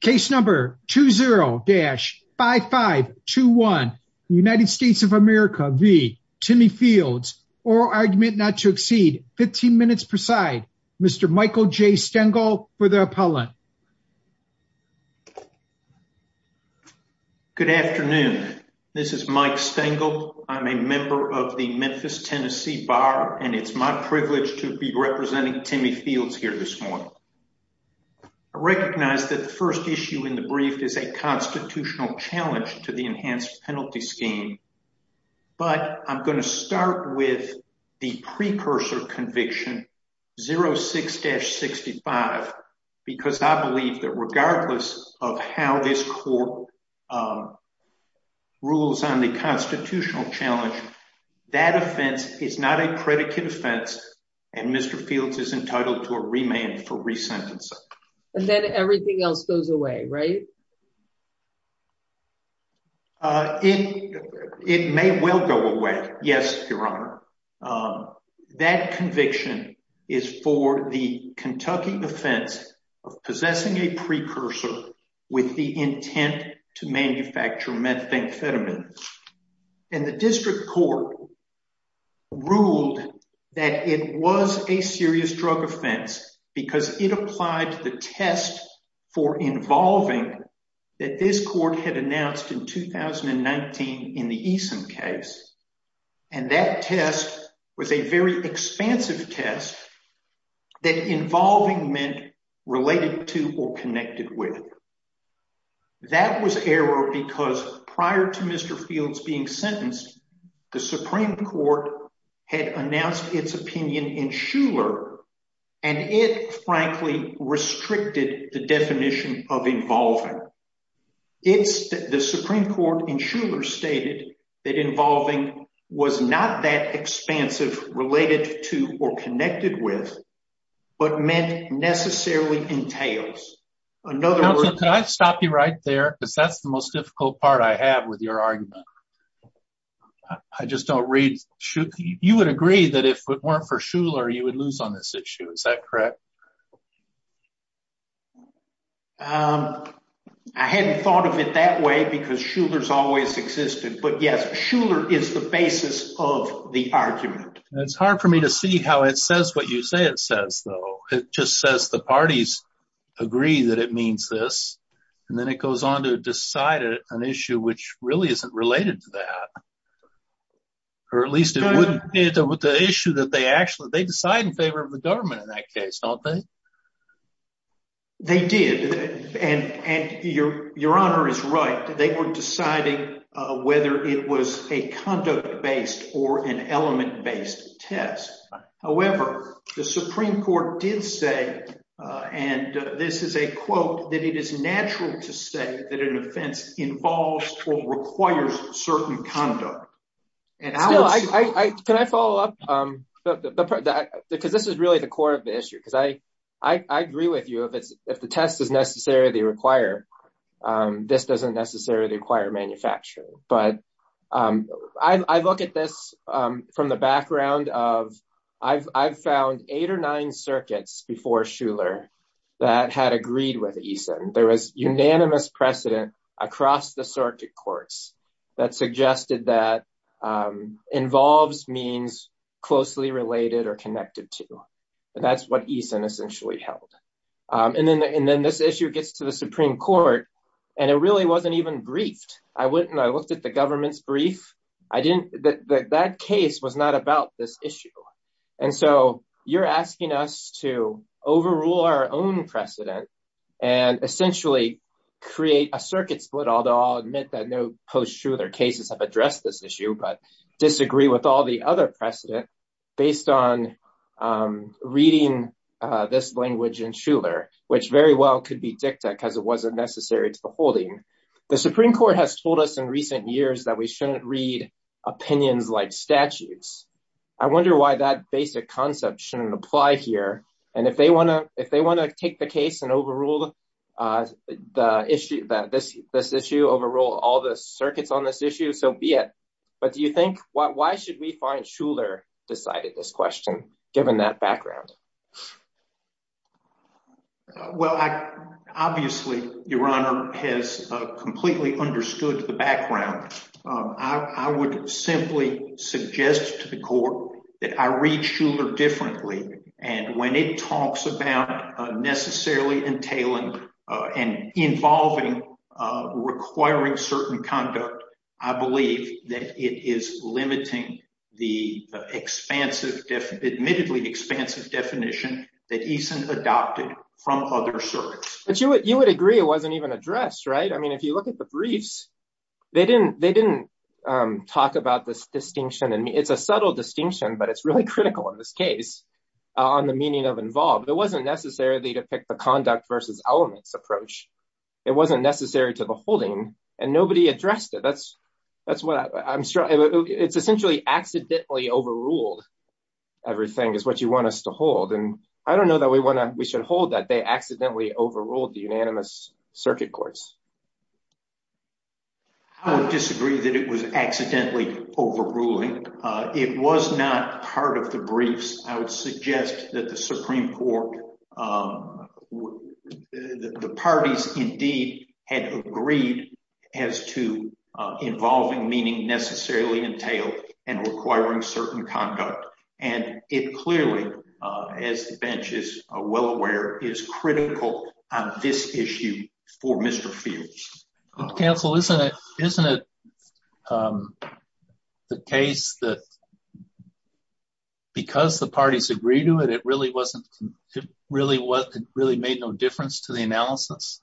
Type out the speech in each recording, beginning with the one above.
Case number 20-5521 United States of America v. Timmy Fields Oral argument not to exceed 15 minutes per side. Mr. Michael J. Stengel for the appellant. Good afternoon. This is Mike Stengel. I'm a member of the Memphis, Tennessee Bar and it's my privilege to be representing Timmy Fields here this morning. I recognize that the first issue in the brief is a constitutional challenge to the enhanced penalty scheme, but I'm going to start with the precursor conviction, 06-65, because I believe that regardless of how this court rules on the constitutional challenge, that offense is not a predicate offense and Mr. Fields is entitled to a remand for resentencing. And then everything else goes away, right? It may well go away, yes, Your Honor. That conviction is for the Kentucky offense of possessing a precursor with the intent to manufacture methamphetamine. And the district court ruled that it was a serious drug offense because it applied to the test for involving that this court had announced in 2019 in the ESIM case. And that test was a very expansive test that involving meant related to or connected with. That was error because prior to Mr. Fields being sentenced, the Supreme Court had announced its opinion in Shuler and it frankly restricted the definition of involving. The Supreme Court in Shuler stated that involving was not that expansive related to or connected with, but meant necessarily entails. Counselor, can I stop you right there? Because that's the most difficult part I have with your argument. I just don't read. You would agree that if it weren't for Shuler, you would lose on this issue. Is that correct? I hadn't thought of it that way because Shuler's always existed. But yes, Shuler is the basis of the argument. It's hard for me to see how it says what you say it that it means this. And then it goes on to decide an issue which really isn't related to that. Or at least it wouldn't be the issue that they actually they decide in favor of the government in that case, don't they? They did. And your Honor is right. They were deciding whether it was a quote that it is natural to say that an offense involves or requires certain conduct. Can I follow up? Because this is really the core of the issue. Because I agree with you. If the test is necessary, they require. This doesn't necessarily require manufacturing. But I look at this from the background of I've found eight or nine circuits before Shuler that had agreed with Eason. There was unanimous precedent across the circuit courts that suggested that involves means closely related or connected to. And that's what Eason essentially held. And then this issue gets to the Supreme Court. And it really wasn't even briefed. I went and I looked at the government's that case was not about this issue. And so you're asking us to overrule our own precedent and essentially create a circuit split, although I'll admit that no post-Shuler cases have addressed this issue, but disagree with all the other precedent based on reading this language in Shuler, which very well could be dicta because it wasn't necessary to the holding. The Supreme Court has told us in recent years that we shouldn't read opinions like statutes. I wonder why that basic concept shouldn't apply here. And if they want to if they want to take the case and overrule the issue that this this issue overrule all the circuits on this issue, so be it. But do you think why should we find Shuler decided this question, given that background? Well, obviously, your honor has completely understood the background. I would simply suggest to the court that I read Shuler differently. And when it talks about necessarily entailing and involving requiring certain conduct, I believe that it is limiting the expansive, admittedly expansive definition that Eason adopted from other circuits. But you would you would agree it wasn't even addressed, right? I mean, if you look at the briefs, they didn't they didn't talk about this distinction. And it's a subtle distinction, but it's really critical in this case, on the meaning of involved, it wasn't necessarily to pick the conduct versus elements approach. It wasn't necessary to the holding, and nobody addressed it. That's, that's what I'm sure it's essentially accidentally overruled. Everything is what you want us to hold. And I don't know that we want to we should hold that they accidentally overruled the unanimous circuit courts. I disagree that it was accidentally overruling. It was not part of the briefs, I would suggest that the Supreme Court, the parties indeed had agreed as to involving meaning necessarily entailed and requiring certain conduct. And it clearly, as the bench is well aware, is critical on this issue for Mr. Fields. Counsel, isn't it isn't it the case that because the parties agree to it, it really wasn't really what really made no difference to the analysis?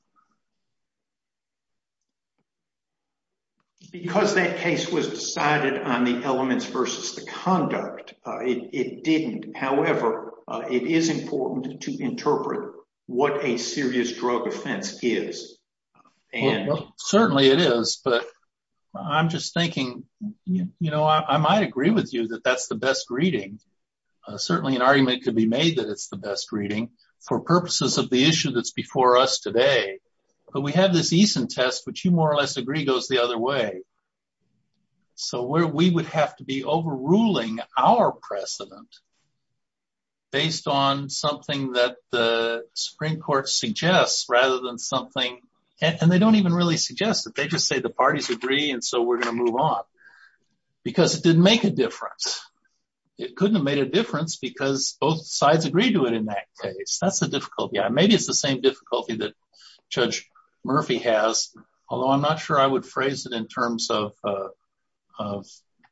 Because that case was decided on the elements versus the conduct, it didn't. However, it is important to interpret what a serious drug offense is. And certainly it is. But I'm just thinking, you know, I might agree with you that that's the best reading. Certainly, an argument could be made that it's the best reading for purposes of the issue that's before us today. But we have this Eason test, which you more or less agree goes the other way. So where we would have to be overruling our precedent, based on something that the Supreme Court suggests rather than something, and they don't even really suggest that they just say the because it didn't make a difference. It couldn't have made a difference because both sides agreed to it in that case. That's the difficulty. Maybe it's the same difficulty that Judge Murphy has, although I'm not sure I would phrase it in terms of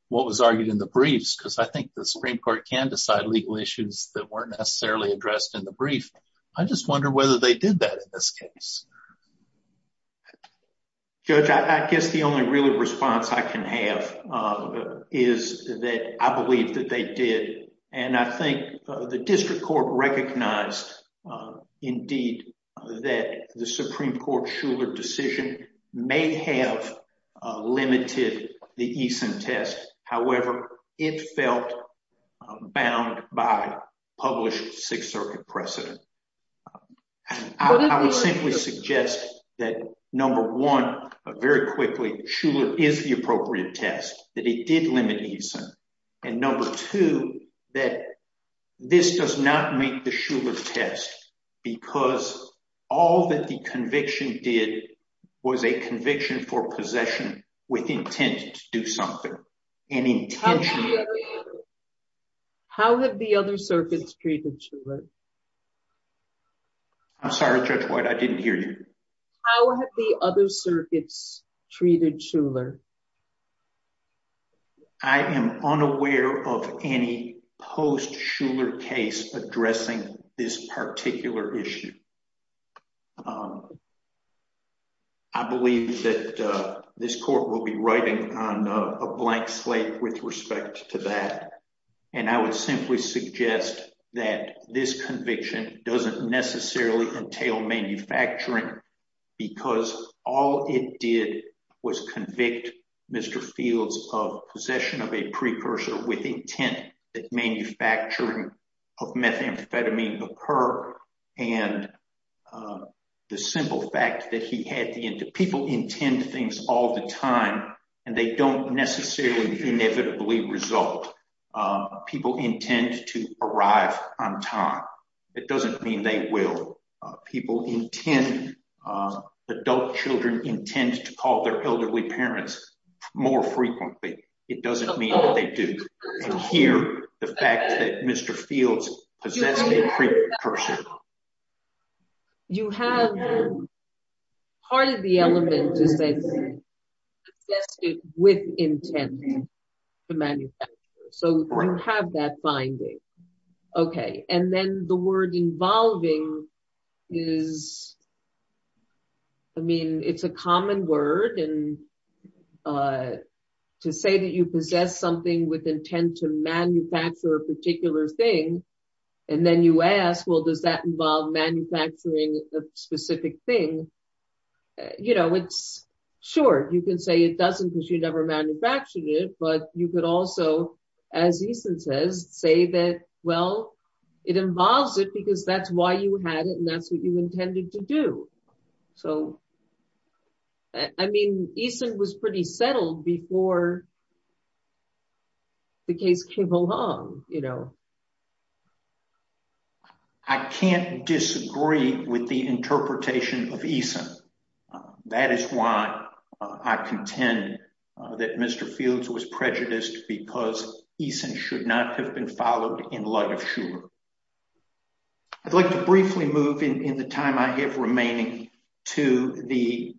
what was argued in the briefs, because I think the Supreme Court can decide legal issues that weren't necessarily addressed in the brief. I just wonder whether they did that in this case. Judge, I guess the only real response I can have is that I believe that they did. And I think the district court recognized, indeed, that the Supreme Court Shuler decision may have limited the Eason test. However, it felt bound by published Sixth Circuit precedent. I would simply suggest that, number one, very quickly, Shuler is the appropriate test, that it did limit Eason. And number two, that this does not make the Shuler test because all that the conviction did was a conviction for possession with intent to do something. How have the other circuits treated Shuler? I'm sorry, Judge White. I didn't hear you. How have the other circuits treated Shuler? I am unaware of any post-Shuler case addressing this particular issue. I believe that this court will be writing on a blank slate with respect to that. And I would simply suggest that this conviction doesn't necessarily entail manufacturing, because all it did was convict Mr. Fields of possession of a precursor with intent that manufacturing of methamphetamine occur, and the simple fact that he had the intent. People intend things all the time, and they don't necessarily inevitably result. People intend to arrive on time. It doesn't mean they will. People intend, adult children intend to call their elderly parents more frequently. It doesn't mean that you can't hear the fact that Mr. Fields possessed a precursor. You have, part of the element is that he possessed it with intent to manufacture, so you have that finding. Okay, and then the word involving is, I mean, it's a common word, and to say that you possess something with intent to manufacture a particular thing, and then you ask, well, does that involve manufacturing a specific thing? You know, it's short. You can say it doesn't because you never manufactured it, but you could also, as Eason says, say that, well, it involves it because that's why you had it, and that's what you intended to do. So, I mean, Eason was pretty settled before the case came along, you know. I can't disagree with the interpretation of Eason. That is why I contend that Mr. Fields was prejudiced because Eason should not have been followed in light of Shuler. I'd like to briefly move, in the time I have remaining, to the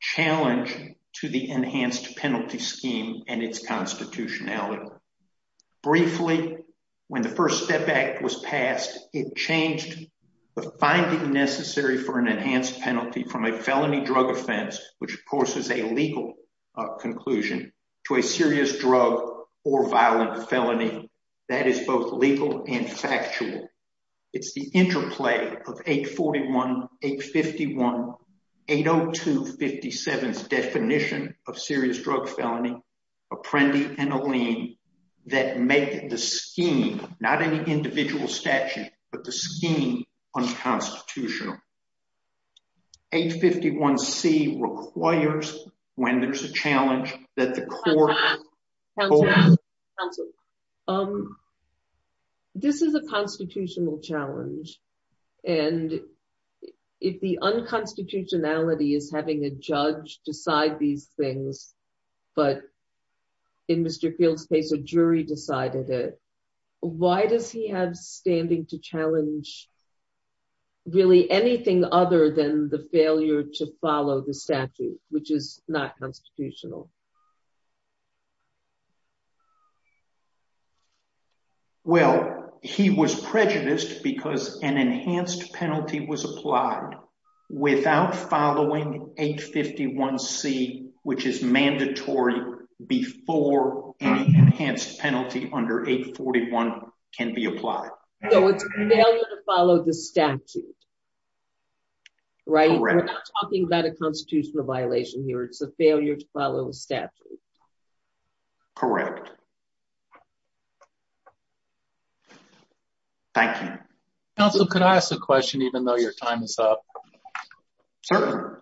challenge to the enhanced penalty scheme and its constitutionality. Briefly, when the First Step Act was passed, it changed the finding necessary for an enhanced penalty from a felony drug offense, which, of course, is a legal conclusion, to a serious drug or violent felony. That is both legal and factual. It's the interplay of 841, 851, 802, 57's definition of serious drug felony, Apprendi, and Allene, that make the scheme, not any individual statute, but the scheme unconstitutional. 851c requires, when there's a challenge, that the court- Counsel? This is a constitutional challenge, and if the unconstitutionality is having a judge decide these things, but in Mr. Fields' case, a jury decided it, why does he have standing to challenge really anything other than the failure to follow the statute, which is not constitutional? Well, he was prejudiced because an enhanced penalty was applied without following 851c, which is mandatory before any enhanced penalty under 841 can be applied. So it's a failure to follow the statute, right? We're not talking about a constitutional violation here, it's a failure to follow the statute. Correct. Thank you. Counsel, could I ask a question, even though your time is up? Certainly.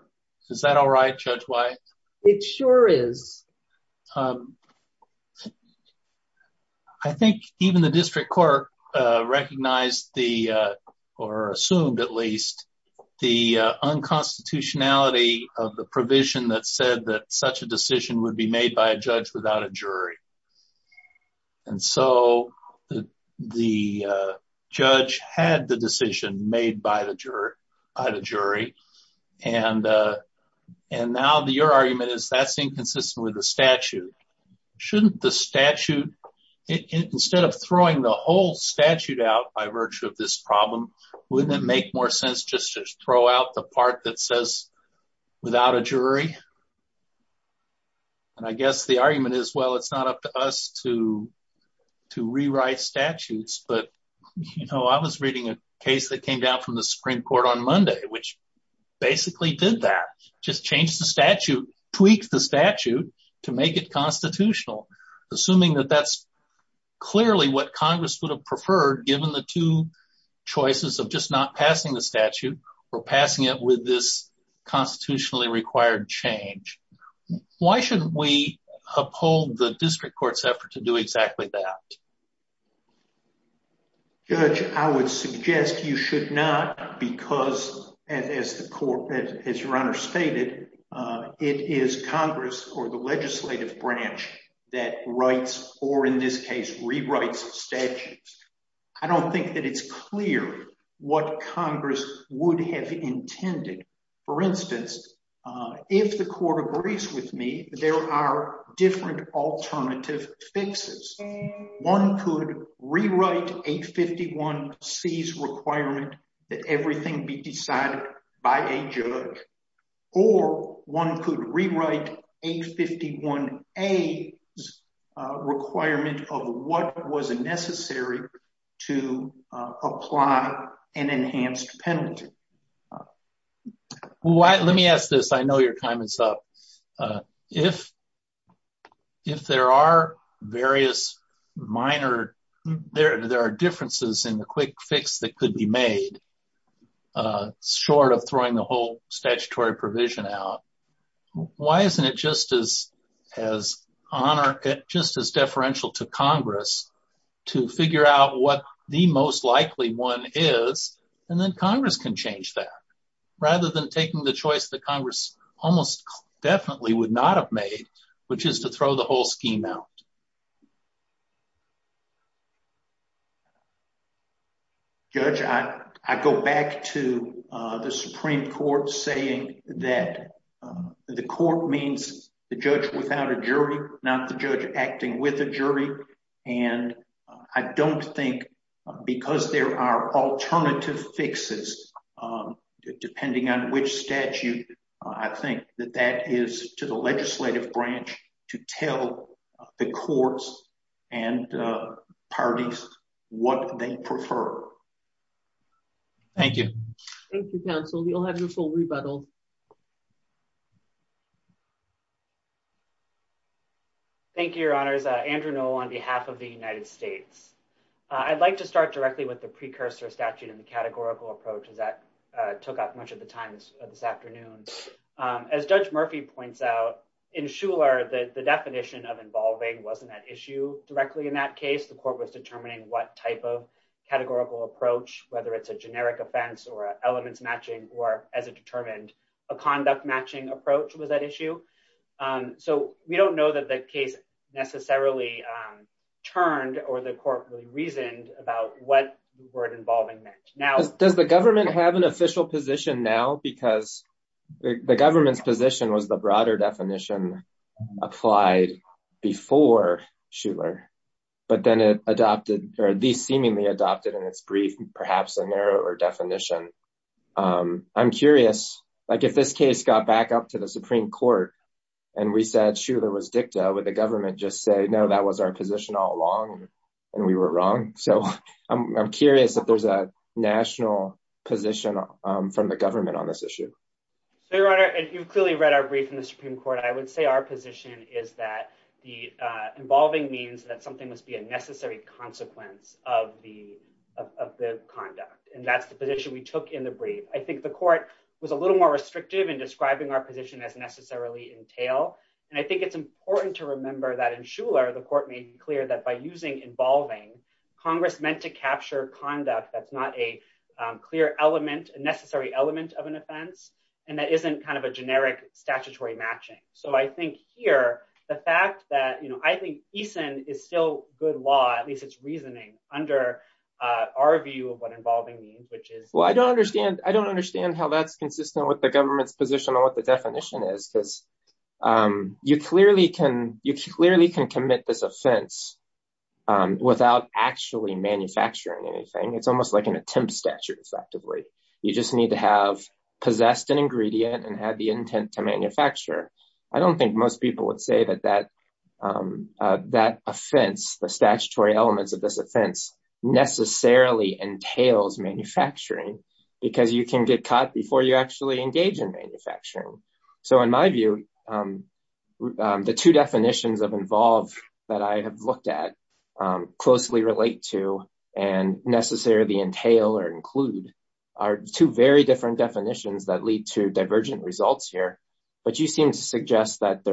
Is that all right, Judge Wyeth? It sure is. I think even the district court recognized the, or assumed at least, the unconstitutionality of the provision that said that such a decision would be made by a judge without a jury, and so the judge had the decision made by the jury, and now your argument is that's inconsistent with the statute. Shouldn't the statute, instead of throwing the whole statute out by virtue of this problem, wouldn't it make more sense just to throw out the part that says without a jury? And I guess the argument is, well, it's not up to us to rewrite statutes, but you know, I was reading a case that came down from the Supreme Court on Monday, which basically did that, just changed the statute, tweaked the statute to make it constitutional, assuming that that's clearly what Congress would have preferred, given the two choices of just not required change. Why shouldn't we uphold the district court's effort to do exactly that? Judge, I would suggest you should not, because as the court, as your honor stated, it is Congress or the legislative branch that writes, or in this case, rewrites statutes. I don't think that it's clear what Congress would have intended. For instance, if the court agrees with me, there are different alternative fixes. One could rewrite 851C's requirement that everything be decided by a judge, or one could rewrite 851A's what was necessary to apply an enhanced penalty. Let me ask this. I know your time is up. If there are various minor, there are differences in the quick fix that could be made, short of throwing the whole statutory provision out, why isn't it just as deferential to Congress to figure out what the most likely one is, and then Congress can change that, rather than taking the choice that Congress almost definitely would not have made, which is to throw the whole scheme out? Judge, I go back to the Supreme Court saying that the court means the judge without a jury, not the judge acting with a jury, and I don't think, because there are alternative fixes, depending on which statute, I think that that is to the legislative branch to tell the courts and parties what they prefer. Thank you. Thank you, counsel. You'll have your full rebuttal. Thank you, your honors. Andrew Noll on behalf of the United States. I'd like to start directly with the precursor statute and the categorical approach, as that took up much of the time this afternoon. As Judge Murphy points out, in Shuler, the definition of involving wasn't at issue directly in that case. The court was determining what type of categorical approach whether it's a generic offense or elements matching or, as it determined, a conduct matching approach was at issue. So we don't know that the case necessarily turned or the court really reasoned about what word involving meant. Does the government have an official position now? Because the government's position was the broader definition applied before Shuler, but then it adopted, or at least seemingly adopted in its brief, perhaps a narrower definition. I'm curious, like if this case got back up to the Supreme Court, and we said Shuler was dicta, would the government just say, no, that was our position all along, and we were wrong? So I'm curious if there's a national position from the government on this issue. So your honor, and you've clearly read our brief in the Supreme Court, I would say our position is that the involving means that something must be a necessary consequence of the conduct, and that's the position we took in the brief. I think the court was a little more restrictive in describing our position as necessarily entail, and I think it's important to remember that in Shuler, the court made clear that by using involving, Congress meant to capture conduct that's not a clear element, a necessary element of an offense, and that isn't kind of a generic statutory matching. So I think here, the fact that, I think ESON is still good law, at least it's reasoning under our view of what involving means, which is- Well, I don't understand how that's consistent with the government's position on what the definition is, because you clearly can commit this offense without actually manufacturing anything. It's almost like an attempt statute, effectively. You just need to have possessed an manufacturer. I don't think most people would say that that offense, the statutory elements of this offense, necessarily entails manufacturing, because you can get caught before you actually engage in manufacturing. So in my view, the two definitions of involve that I have looked at, closely relate to, and necessarily entail or include, are two very different definitions that lead to divergent results here. But you seem to suggest that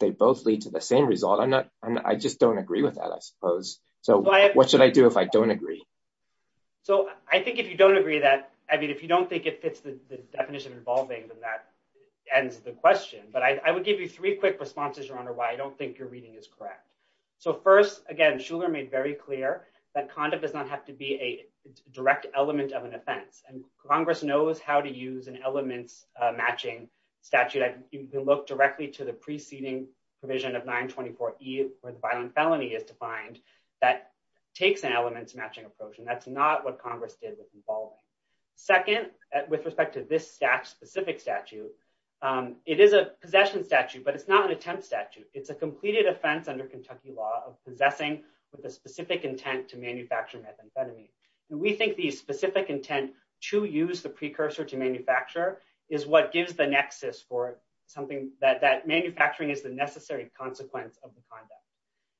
they both lead to the same result. I just don't agree with that, I suppose. So what should I do if I don't agree? So I think if you don't agree that, I mean, if you don't think it fits the definition of involving, then that ends the question. But I would give you three quick responses, Your Honor, why I don't think your reading is correct. So first, again, Shuler made very clear that conduct does not have to be a direct element of an offense. And Congress knows how to use an elements matching statute. You can look directly to the preceding provision of 924E, where the violent felony is defined, that takes an elements matching approach. And that's not what Congress did with involving. Second, with respect to this specific statute, it is a possession statute, but it's not an attempt statute. It's a completed offense under Kentucky law of possessing with a specific intent to manufacture methamphetamine. And we think the specific intent to use the precursor to manufacture is what gives the nexus for something that manufacturing is the necessary consequence of the conduct.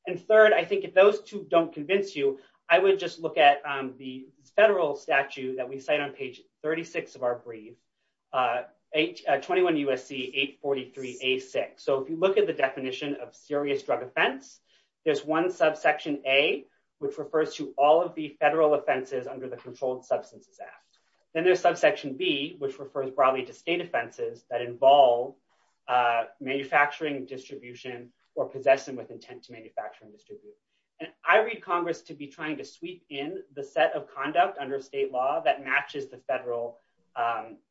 And third, I think if those two don't convince you, I would just look at the federal statute that we cite on page 36 of our brief, 21 USC 843A6. So if you look at the federal statute, it refers to all of the federal offenses under the Controlled Substances Act. Then there's subsection B, which refers broadly to state offenses that involve manufacturing distribution or possessing with intent to manufacture and distribute. And I read Congress to be trying to sweep in the set of conduct under state law that matches the federal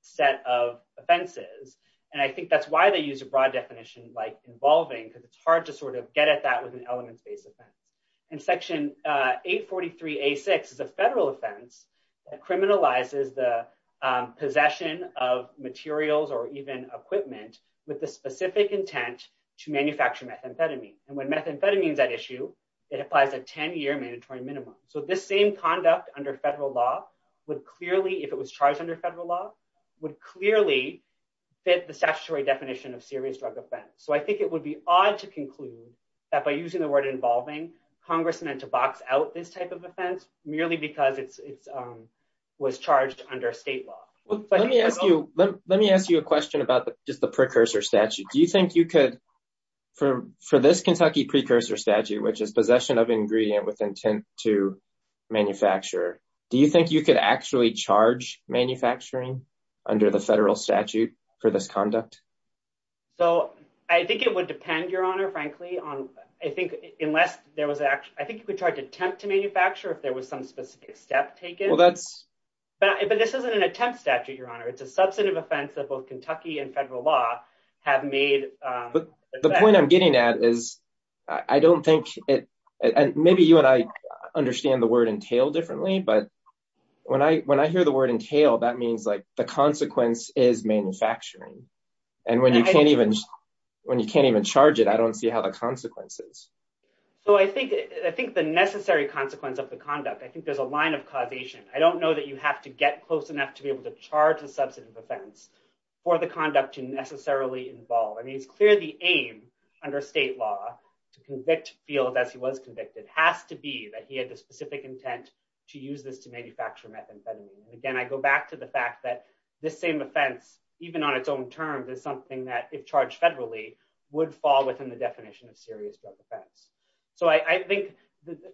set of offenses. And I think that's why they use a broad definition like involving, because it's hard to sort of get at that with an elements-based offense. And section 843A6 is a federal offense that criminalizes the possession of materials or even equipment with the specific intent to manufacture methamphetamine. And when methamphetamine is at issue, it applies a 10-year mandatory minimum. So this same conduct under federal law would clearly, if it was charged under federal law, would clearly fit the statutory definition of serious drug offense. So I think it would be odd to conclude that by using the word involving, Congress meant to box out this type of offense merely because it was charged under state law. Let me ask you a question about just the precursor statute. Do you think you could, for this Kentucky precursor statute, which is possession of ingredient with intent to manufacture, do you think you could actually charge manufacturing under the federal statute for this conduct? So I think it would depend, Your Honor, frankly on, I think unless there was actually, I think you could charge attempt to manufacture if there was some specific step taken. But this isn't an attempt statute, Your Honor. It's a substantive offense that both Kentucky and federal law have made. The point I'm getting at is I don't think, maybe you and I understand the word entail differently, but when I hear the word entail, that means like the consequence is manufacturing. And when you can't even, when you can't even charge it, I don't see how the consequences. So I think, I think the necessary consequence of the conduct, I think there's a line of causation. I don't know that you have to get close enough to be able to charge a substantive offense for the conduct to necessarily involve. I mean, it's clear the aim under state law to convict Fields as he was convicted has to be that he had the specific intent to use this to manufacture methamphetamine. And again, I go back to the fact that this same offense, even on its own terms is something that if charged federally would fall within the definition of serious drug offense. So I think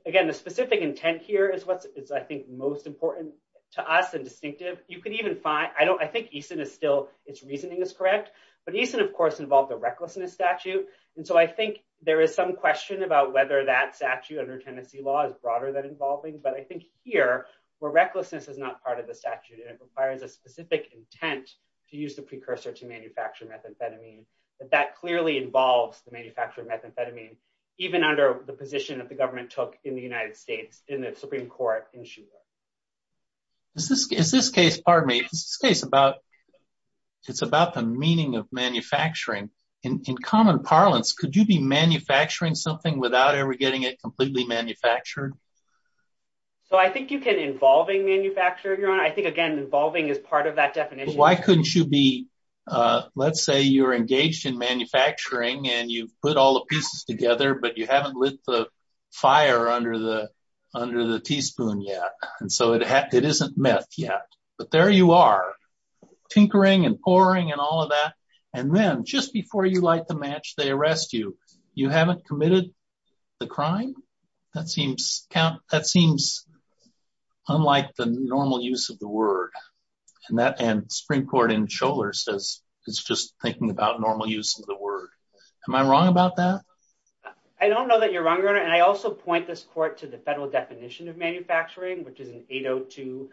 again, the specific intent here is what's, is I think most important to us and distinctive. You could even find, I don't, I think Easton is still, it's reasoning is correct, but Easton of course, involved the recklessness statute. And so I think there is some question about whether that statute under Tennessee law is broader than involving, but I think here where recklessness is not part of the statute and it requires a specific intent to use the precursor to manufacture methamphetamine, but that clearly involves the manufacture of methamphetamine, even under the position that the government took in the United States, in the Supreme court in Shula. Is this, is this case, pardon me, it's this case about, it's about the meaning of manufacturing in common parlance. Could you be manufacturing something without ever getting it completely manufactured? So I think you can involving manufacture, your honor. I think again, involving is part of that definition. Why couldn't you be, let's say you're engaged in manufacturing and you've put all the pieces together, but you haven't lit the fire under the, under the teaspoon yet. And so it, it isn't meth yet, but there you are tinkering and pouring and all of that. And then just before you light the match, they arrest you. You haven't committed the crime. That seems count. That seems unlike the normal use of the word. And that, and Supreme court in shoulder says, it's just thinking about normal use of the word. Am I wrong about that? I don't know that you're wrong, your honor. And I also point this court to the federal definition of manufacturing, which is an 802.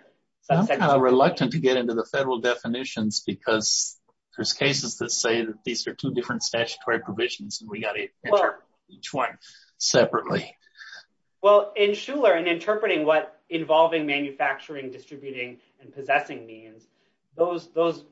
I'm reluctant to get into the federal definitions because there's cases that say that these are two different statutory provisions and we got each one separately. Well, in Schuller and interpreting what involving manufacturing, distributing and possessing means those, those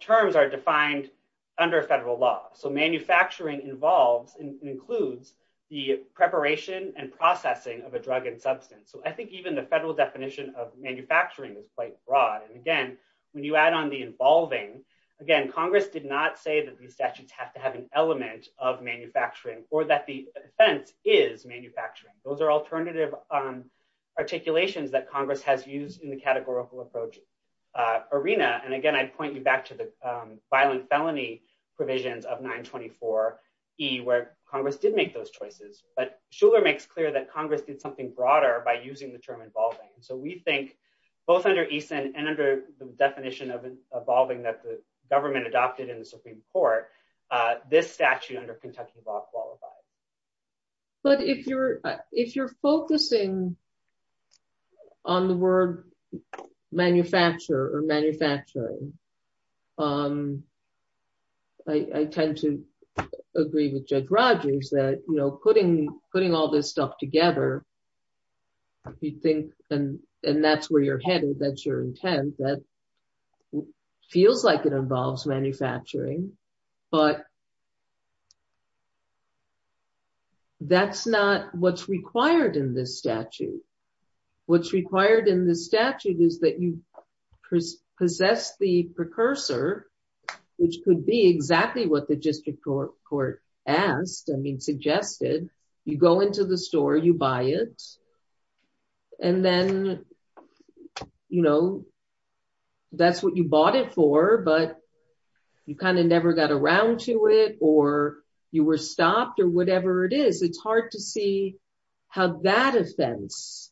terms are defined under federal law. So manufacturing involves and includes the preparation and processing of a drug and substance. So I think even the federal definition of manufacturing is quite broad. And again, when you add on the involving again, Congress did not say that these statutes have to have an element of manufacturing or that the fence is manufacturing. Those are alternative articulations that Congress has used in the categorical approach arena. And again, I'd point you back to the violent felony provisions of nine 24 E where Congress did make those choices, but Schuller makes clear that Congress did something broader by using the term involving. And so we think both under East and under the definition of evolving that the government adopted in the Supreme court this statute under Kentucky law qualified. But if you're, if you're focusing on the word manufacturer or manufacturing I tend to agree with judge Rogers that, you know, putting, putting all this stuff together, if you think, and, and that's where you're headed, that's your intent, that feels like it involves manufacturing, but that's not what's required in this statute. What's required in the statute is that you possess the precursor, which could be exactly what the district court court asked. I mean, you go into the store, you buy it and then, you know, that's what you bought it for, but you kind of never got around to it or you were stopped or whatever it is. It's hard to see how that offense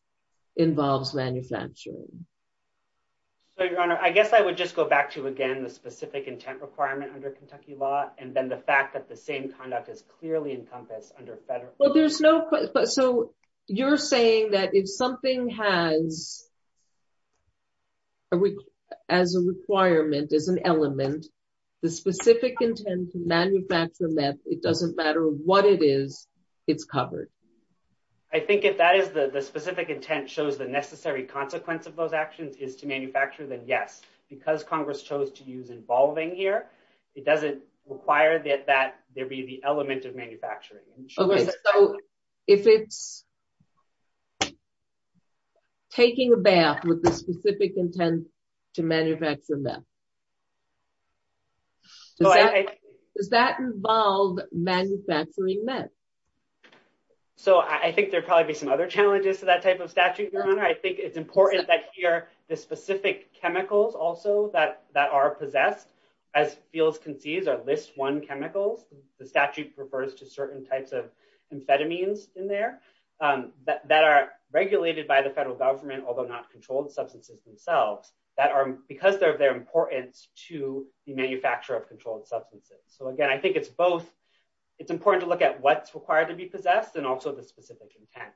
involves manufacturing. So your honor, I guess I would just go back to, again, the specific intent requirement under Kentucky law. And then the fact that the same conduct is clearly encompassed under federal law. Well, there's no, so you're saying that if something has as a requirement, as an element, the specific intent to manufacture them, that it doesn't matter what it is, it's covered. I think if that is the specific intent shows the necessary consequence of those actions is to manufacture then yes, because Congress chose to use involving here. It doesn't require that, there'd be the element of manufacturing. If it's taking a bath with the specific intent to manufacture them, does that involve manufacturing meth? So I think there'd probably be some other challenges to that type of statute, your honor. I think it's important that here, the specific chemicals also that, that are possessed as fields can see is our list one chemicals. The statute refers to certain types of amphetamines in there that are regulated by the federal government, although not controlled substances themselves that are because they're of their importance to the manufacturer of controlled substances. So again, I think it's both, it's important to look at what's required to be possessed and also the specific intent.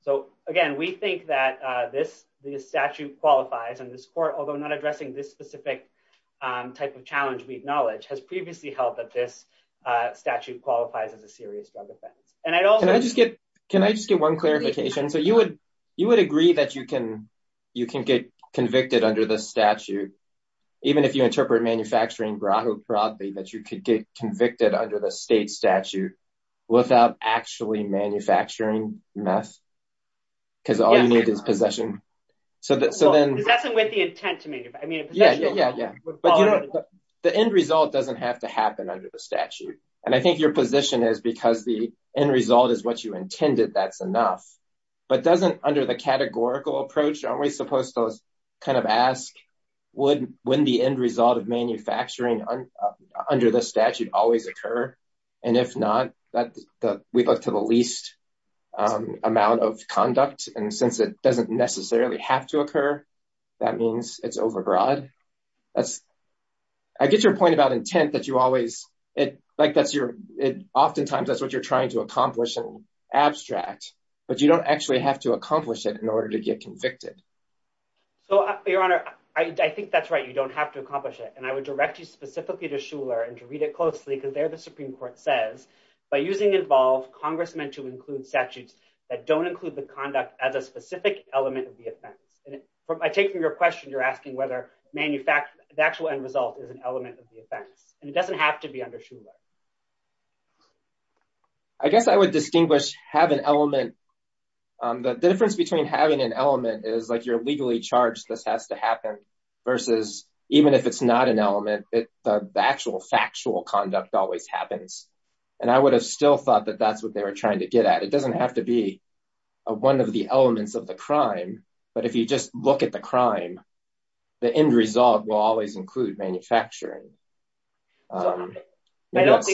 So again, we think that this, the statute qualifies and this court, although not addressing this specific type of challenge, we acknowledge has previously held that this statute qualifies as a serious drug offense. And I'd also just get, can I just get one clarification? So you would, you would agree that you can, you can get convicted under the statute, even if you interpret manufacturing Bravo property, that you could get convicted under the state statute without actually manufacturing meth. Cause all you need is possession. So that, so then with the intent to make it, I mean, yeah, yeah, yeah. But the end result doesn't have to happen under the statute. And I think your position is because the end result is what you intended. That's enough, but doesn't under the categorical approach, aren't we supposed to kind of ask would, when the end result of manufacturing under the statute always occur. And if not that we'd look to the least amount of conduct. And since it doesn't necessarily have to occur, that means it's overbroad. That's I get your point about intent that you always, it like that's your, it oftentimes that's what you're trying to accomplish in abstract, but you don't actually have to accomplish it in order to get convicted. So your honor, I think that's right. You don't have to accomplish it. And I would direct you to what the Supreme court says by using involved congressmen to include statutes that don't include the conduct as a specific element of the offense. And I take from your question. You're asking whether manufactured the actual end result is an element of the offense. And it doesn't have to be understood. I guess I would distinguish, have an element. The difference between having an element is like you're legally charged. This has to happen versus even if it's not an element, the actual factual conduct always happens. And I would have still thought that that's what they were trying to get at. It doesn't have to be one of the elements of the crime, but if you just look at the crime, the end result will always include manufacturing. I don't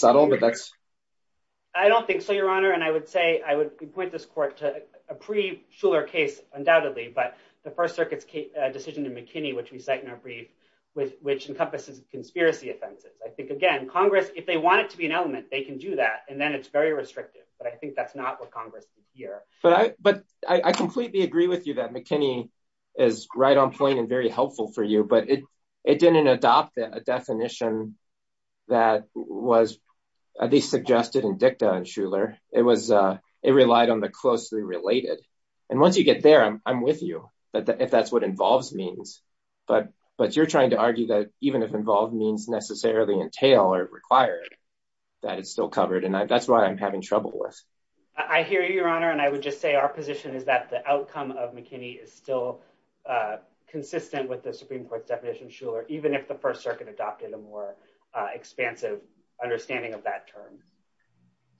think so, your honor. And I would say, I would point this court to a pre Schuller case undoubtedly, but the first circuit's a decision to McKinney, which we cite in our brief with, which encompasses conspiracy offenses. I think again, Congress, if they want it to be an element, they can do that. And then it's very restrictive, but I think that's not what Congress is here. But I, but I completely agree with you that McKinney is right on point and very helpful for you, but it, it didn't adopt a definition that was at least suggested in dicta and Schuller. It was it relied on the means, but, but you're trying to argue that even if involved means necessarily entail or require that it's still covered. And that's why I'm having trouble with, I hear you, your honor. And I would just say our position is that the outcome of McKinney is still consistent with the Supreme court's definition Schuller, even if the first circuit adopted a more expansive understanding of that term.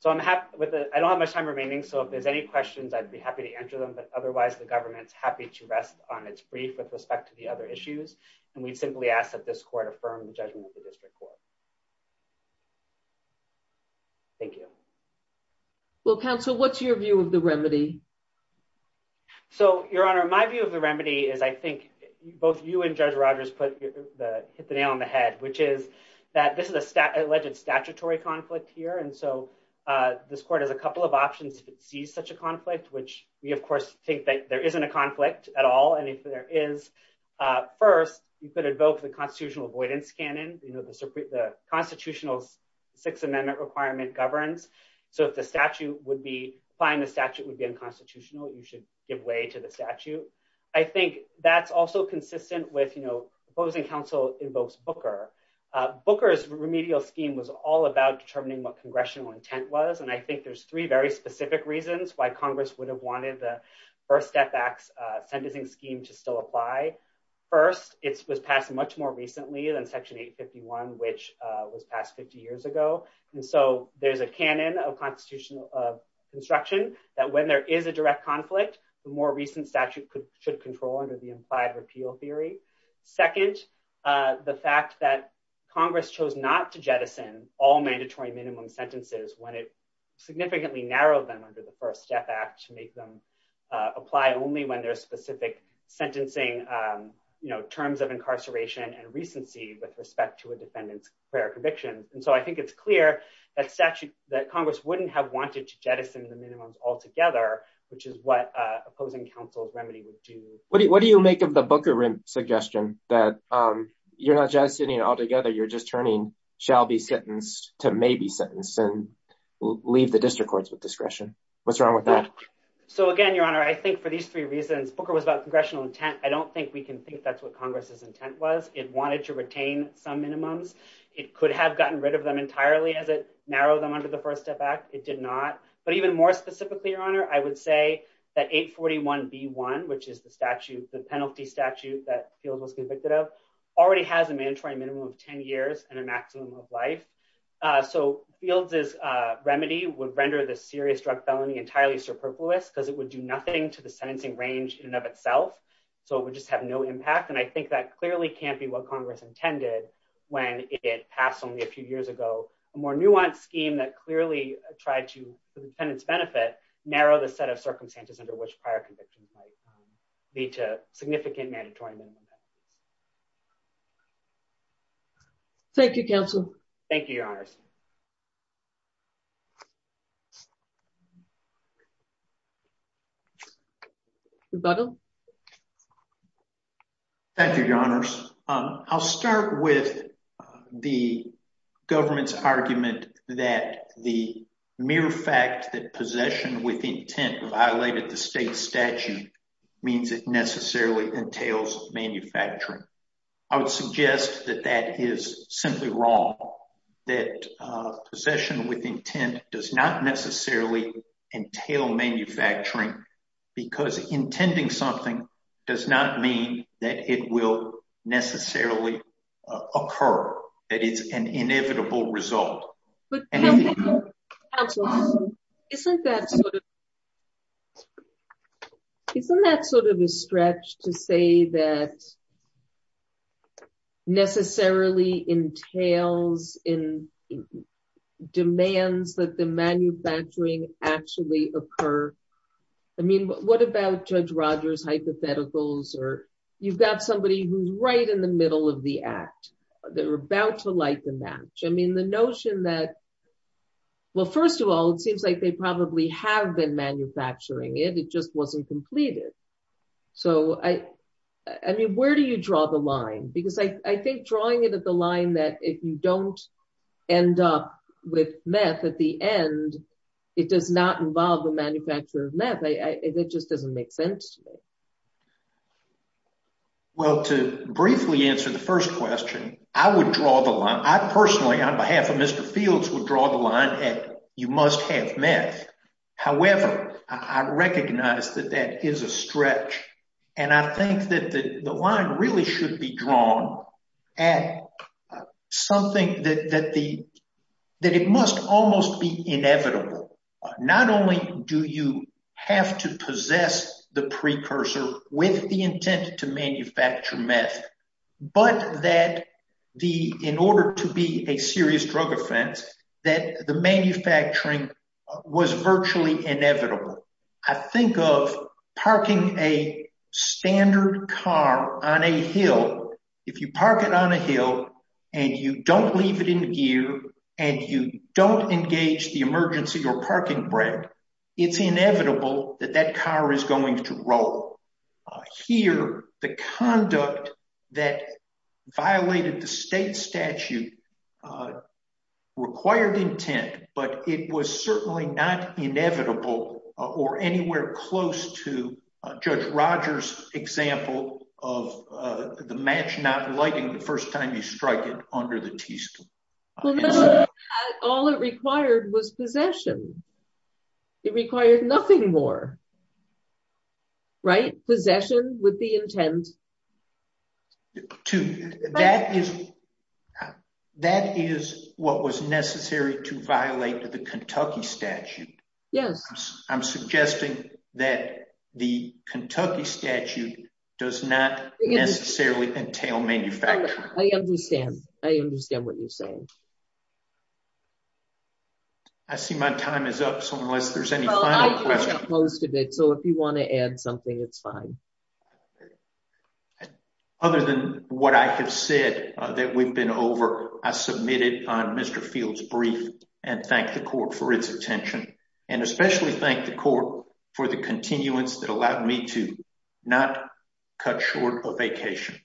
So I'm happy with it. I don't have much time remaining. So if there's any questions, I'd be happy to answer them, but otherwise the government's to rest on its brief with respect to the other issues. And we'd simply ask that this court affirm the judgment of the district court. Thank you. Well, counsel, what's your view of the remedy? So your honor, my view of the remedy is I think both you and judge Rogers put the, hit the nail on the head, which is that this is a stat alleged statutory conflict here. And so this court has a couple of options. If it sees such a conflict, which we of course think that there isn't a conflict at all. And if there is a first, you could evoke the constitutional avoidance canon, you know, the Supreme, the constitutional six amendment requirement governs. So if the statute would be fine, the statute would be unconstitutional. You should give way to the statute. I think that's also consistent with, you know, opposing counsel invokes Booker. Booker's remedial scheme was all about determining what congressional intent was. And I think there's three very specific reasons why Congress would have wanted the first step backs sentencing scheme to still apply. First, it was passed much more recently than section eight 51, which was passed 50 years ago. And so there's a canon of constitutional construction that when there is a direct conflict, the more recent statute could, should control under the implied repeal theory. Second, the fact that Congress chose not to jettison all mandatory minimum sentences when it significantly narrowed them under the first step to make them apply only when there's specific sentencing, you know, terms of incarceration and recency with respect to a defendant's fair conviction. And so I think it's clear that statute that Congress wouldn't have wanted to jettison the minimums altogether, which is what opposing counsel's remedy would do. What do you make of the Booker suggestion that you're not just sitting all together, you're just turning shall be sentenced to maybe sentence and leave the district courts with discretion. What's wrong with that? So again, your honor, I think for these three reasons, Booker was about congressional intent. I don't think we can think that's what Congress's intent was. It wanted to retain some minimums. It could have gotten rid of them entirely as it narrowed them under the first step back. It did not. But even more specifically, your honor, I would say that eight 41 B one, which is the statute, the penalty statute that field was convicted of already has a mandatory minimum of 10 years and maximum of life. So fields is remedy would render the serious drug felony entirely superfluous because it would do nothing to the sentencing range in and of itself. So it would just have no impact. And I think that clearly can't be what Congress intended when it passed only a few years ago, a more nuanced scheme that clearly tried to the defendant's benefit, narrow the set of circumstances under which prior convictions might be to significant mandatory minimum. Thank you, counsel. Thank you, your honors. Bottle. Thank you, your honors. I'll start with the government's argument that the mere fact that means it necessarily entails manufacturing. I would suggest that that is simply wrong, that possession with intent does not necessarily entail manufacturing because intending something does not mean that it will necessarily occur that it's an inevitable result. But isn't that isn't that sort of a stretch to say that necessarily entails in demands that the manufacturing actually occur? I mean, what about Judge Rogers hypotheticals, or you've got somebody who's right in the middle of the act, they're about to light the match. I mean, the notion that, well, first of all, it seems like they probably have been manufacturing it, it just wasn't completed. So I mean, where do you draw the line? Because I think drawing it at the line that if you don't end up with meth at the end, it does not involve the manufacture of meth. It just doesn't make sense. Well, to briefly answer the first question, I would draw the line, I personally on behalf of Mr. Fields would draw the line at you must have meth. However, I recognize that that is a stretch. And I think that the line really should be drawn at something that the that it must almost be with the intent to manufacture meth. But that the in order to be a serious drug offense, that the manufacturing was virtually inevitable. I think of parking a standard car on a hill, if you park it on a hill, and you don't leave it in gear, and you don't engage the emergency or here, the conduct that violated the state statute required intent, but it was certainly not inevitable, or anywhere close to Judge Rogers example of the match not lighting the first time you strike it under the teaspoon. All it required was possession. It required nothing more. Possession with the intent to that is, that is what was necessary to violate the Kentucky statute. Yes, I'm suggesting that the Kentucky statute does not necessarily entail manufacturing. I understand. I understand what you're saying. I see my time is up. So unless there's any post of it. So if you want to add something, it's fine. Other than what I have said that we've been over, I submitted on Mr. Fields brief, and thank the court for its attention, and especially thank the court for the continuance that allowed me to not cut short a vacation.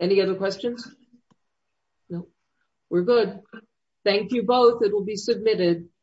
Any other questions? No, we're good. Thank you both. It will be submitted.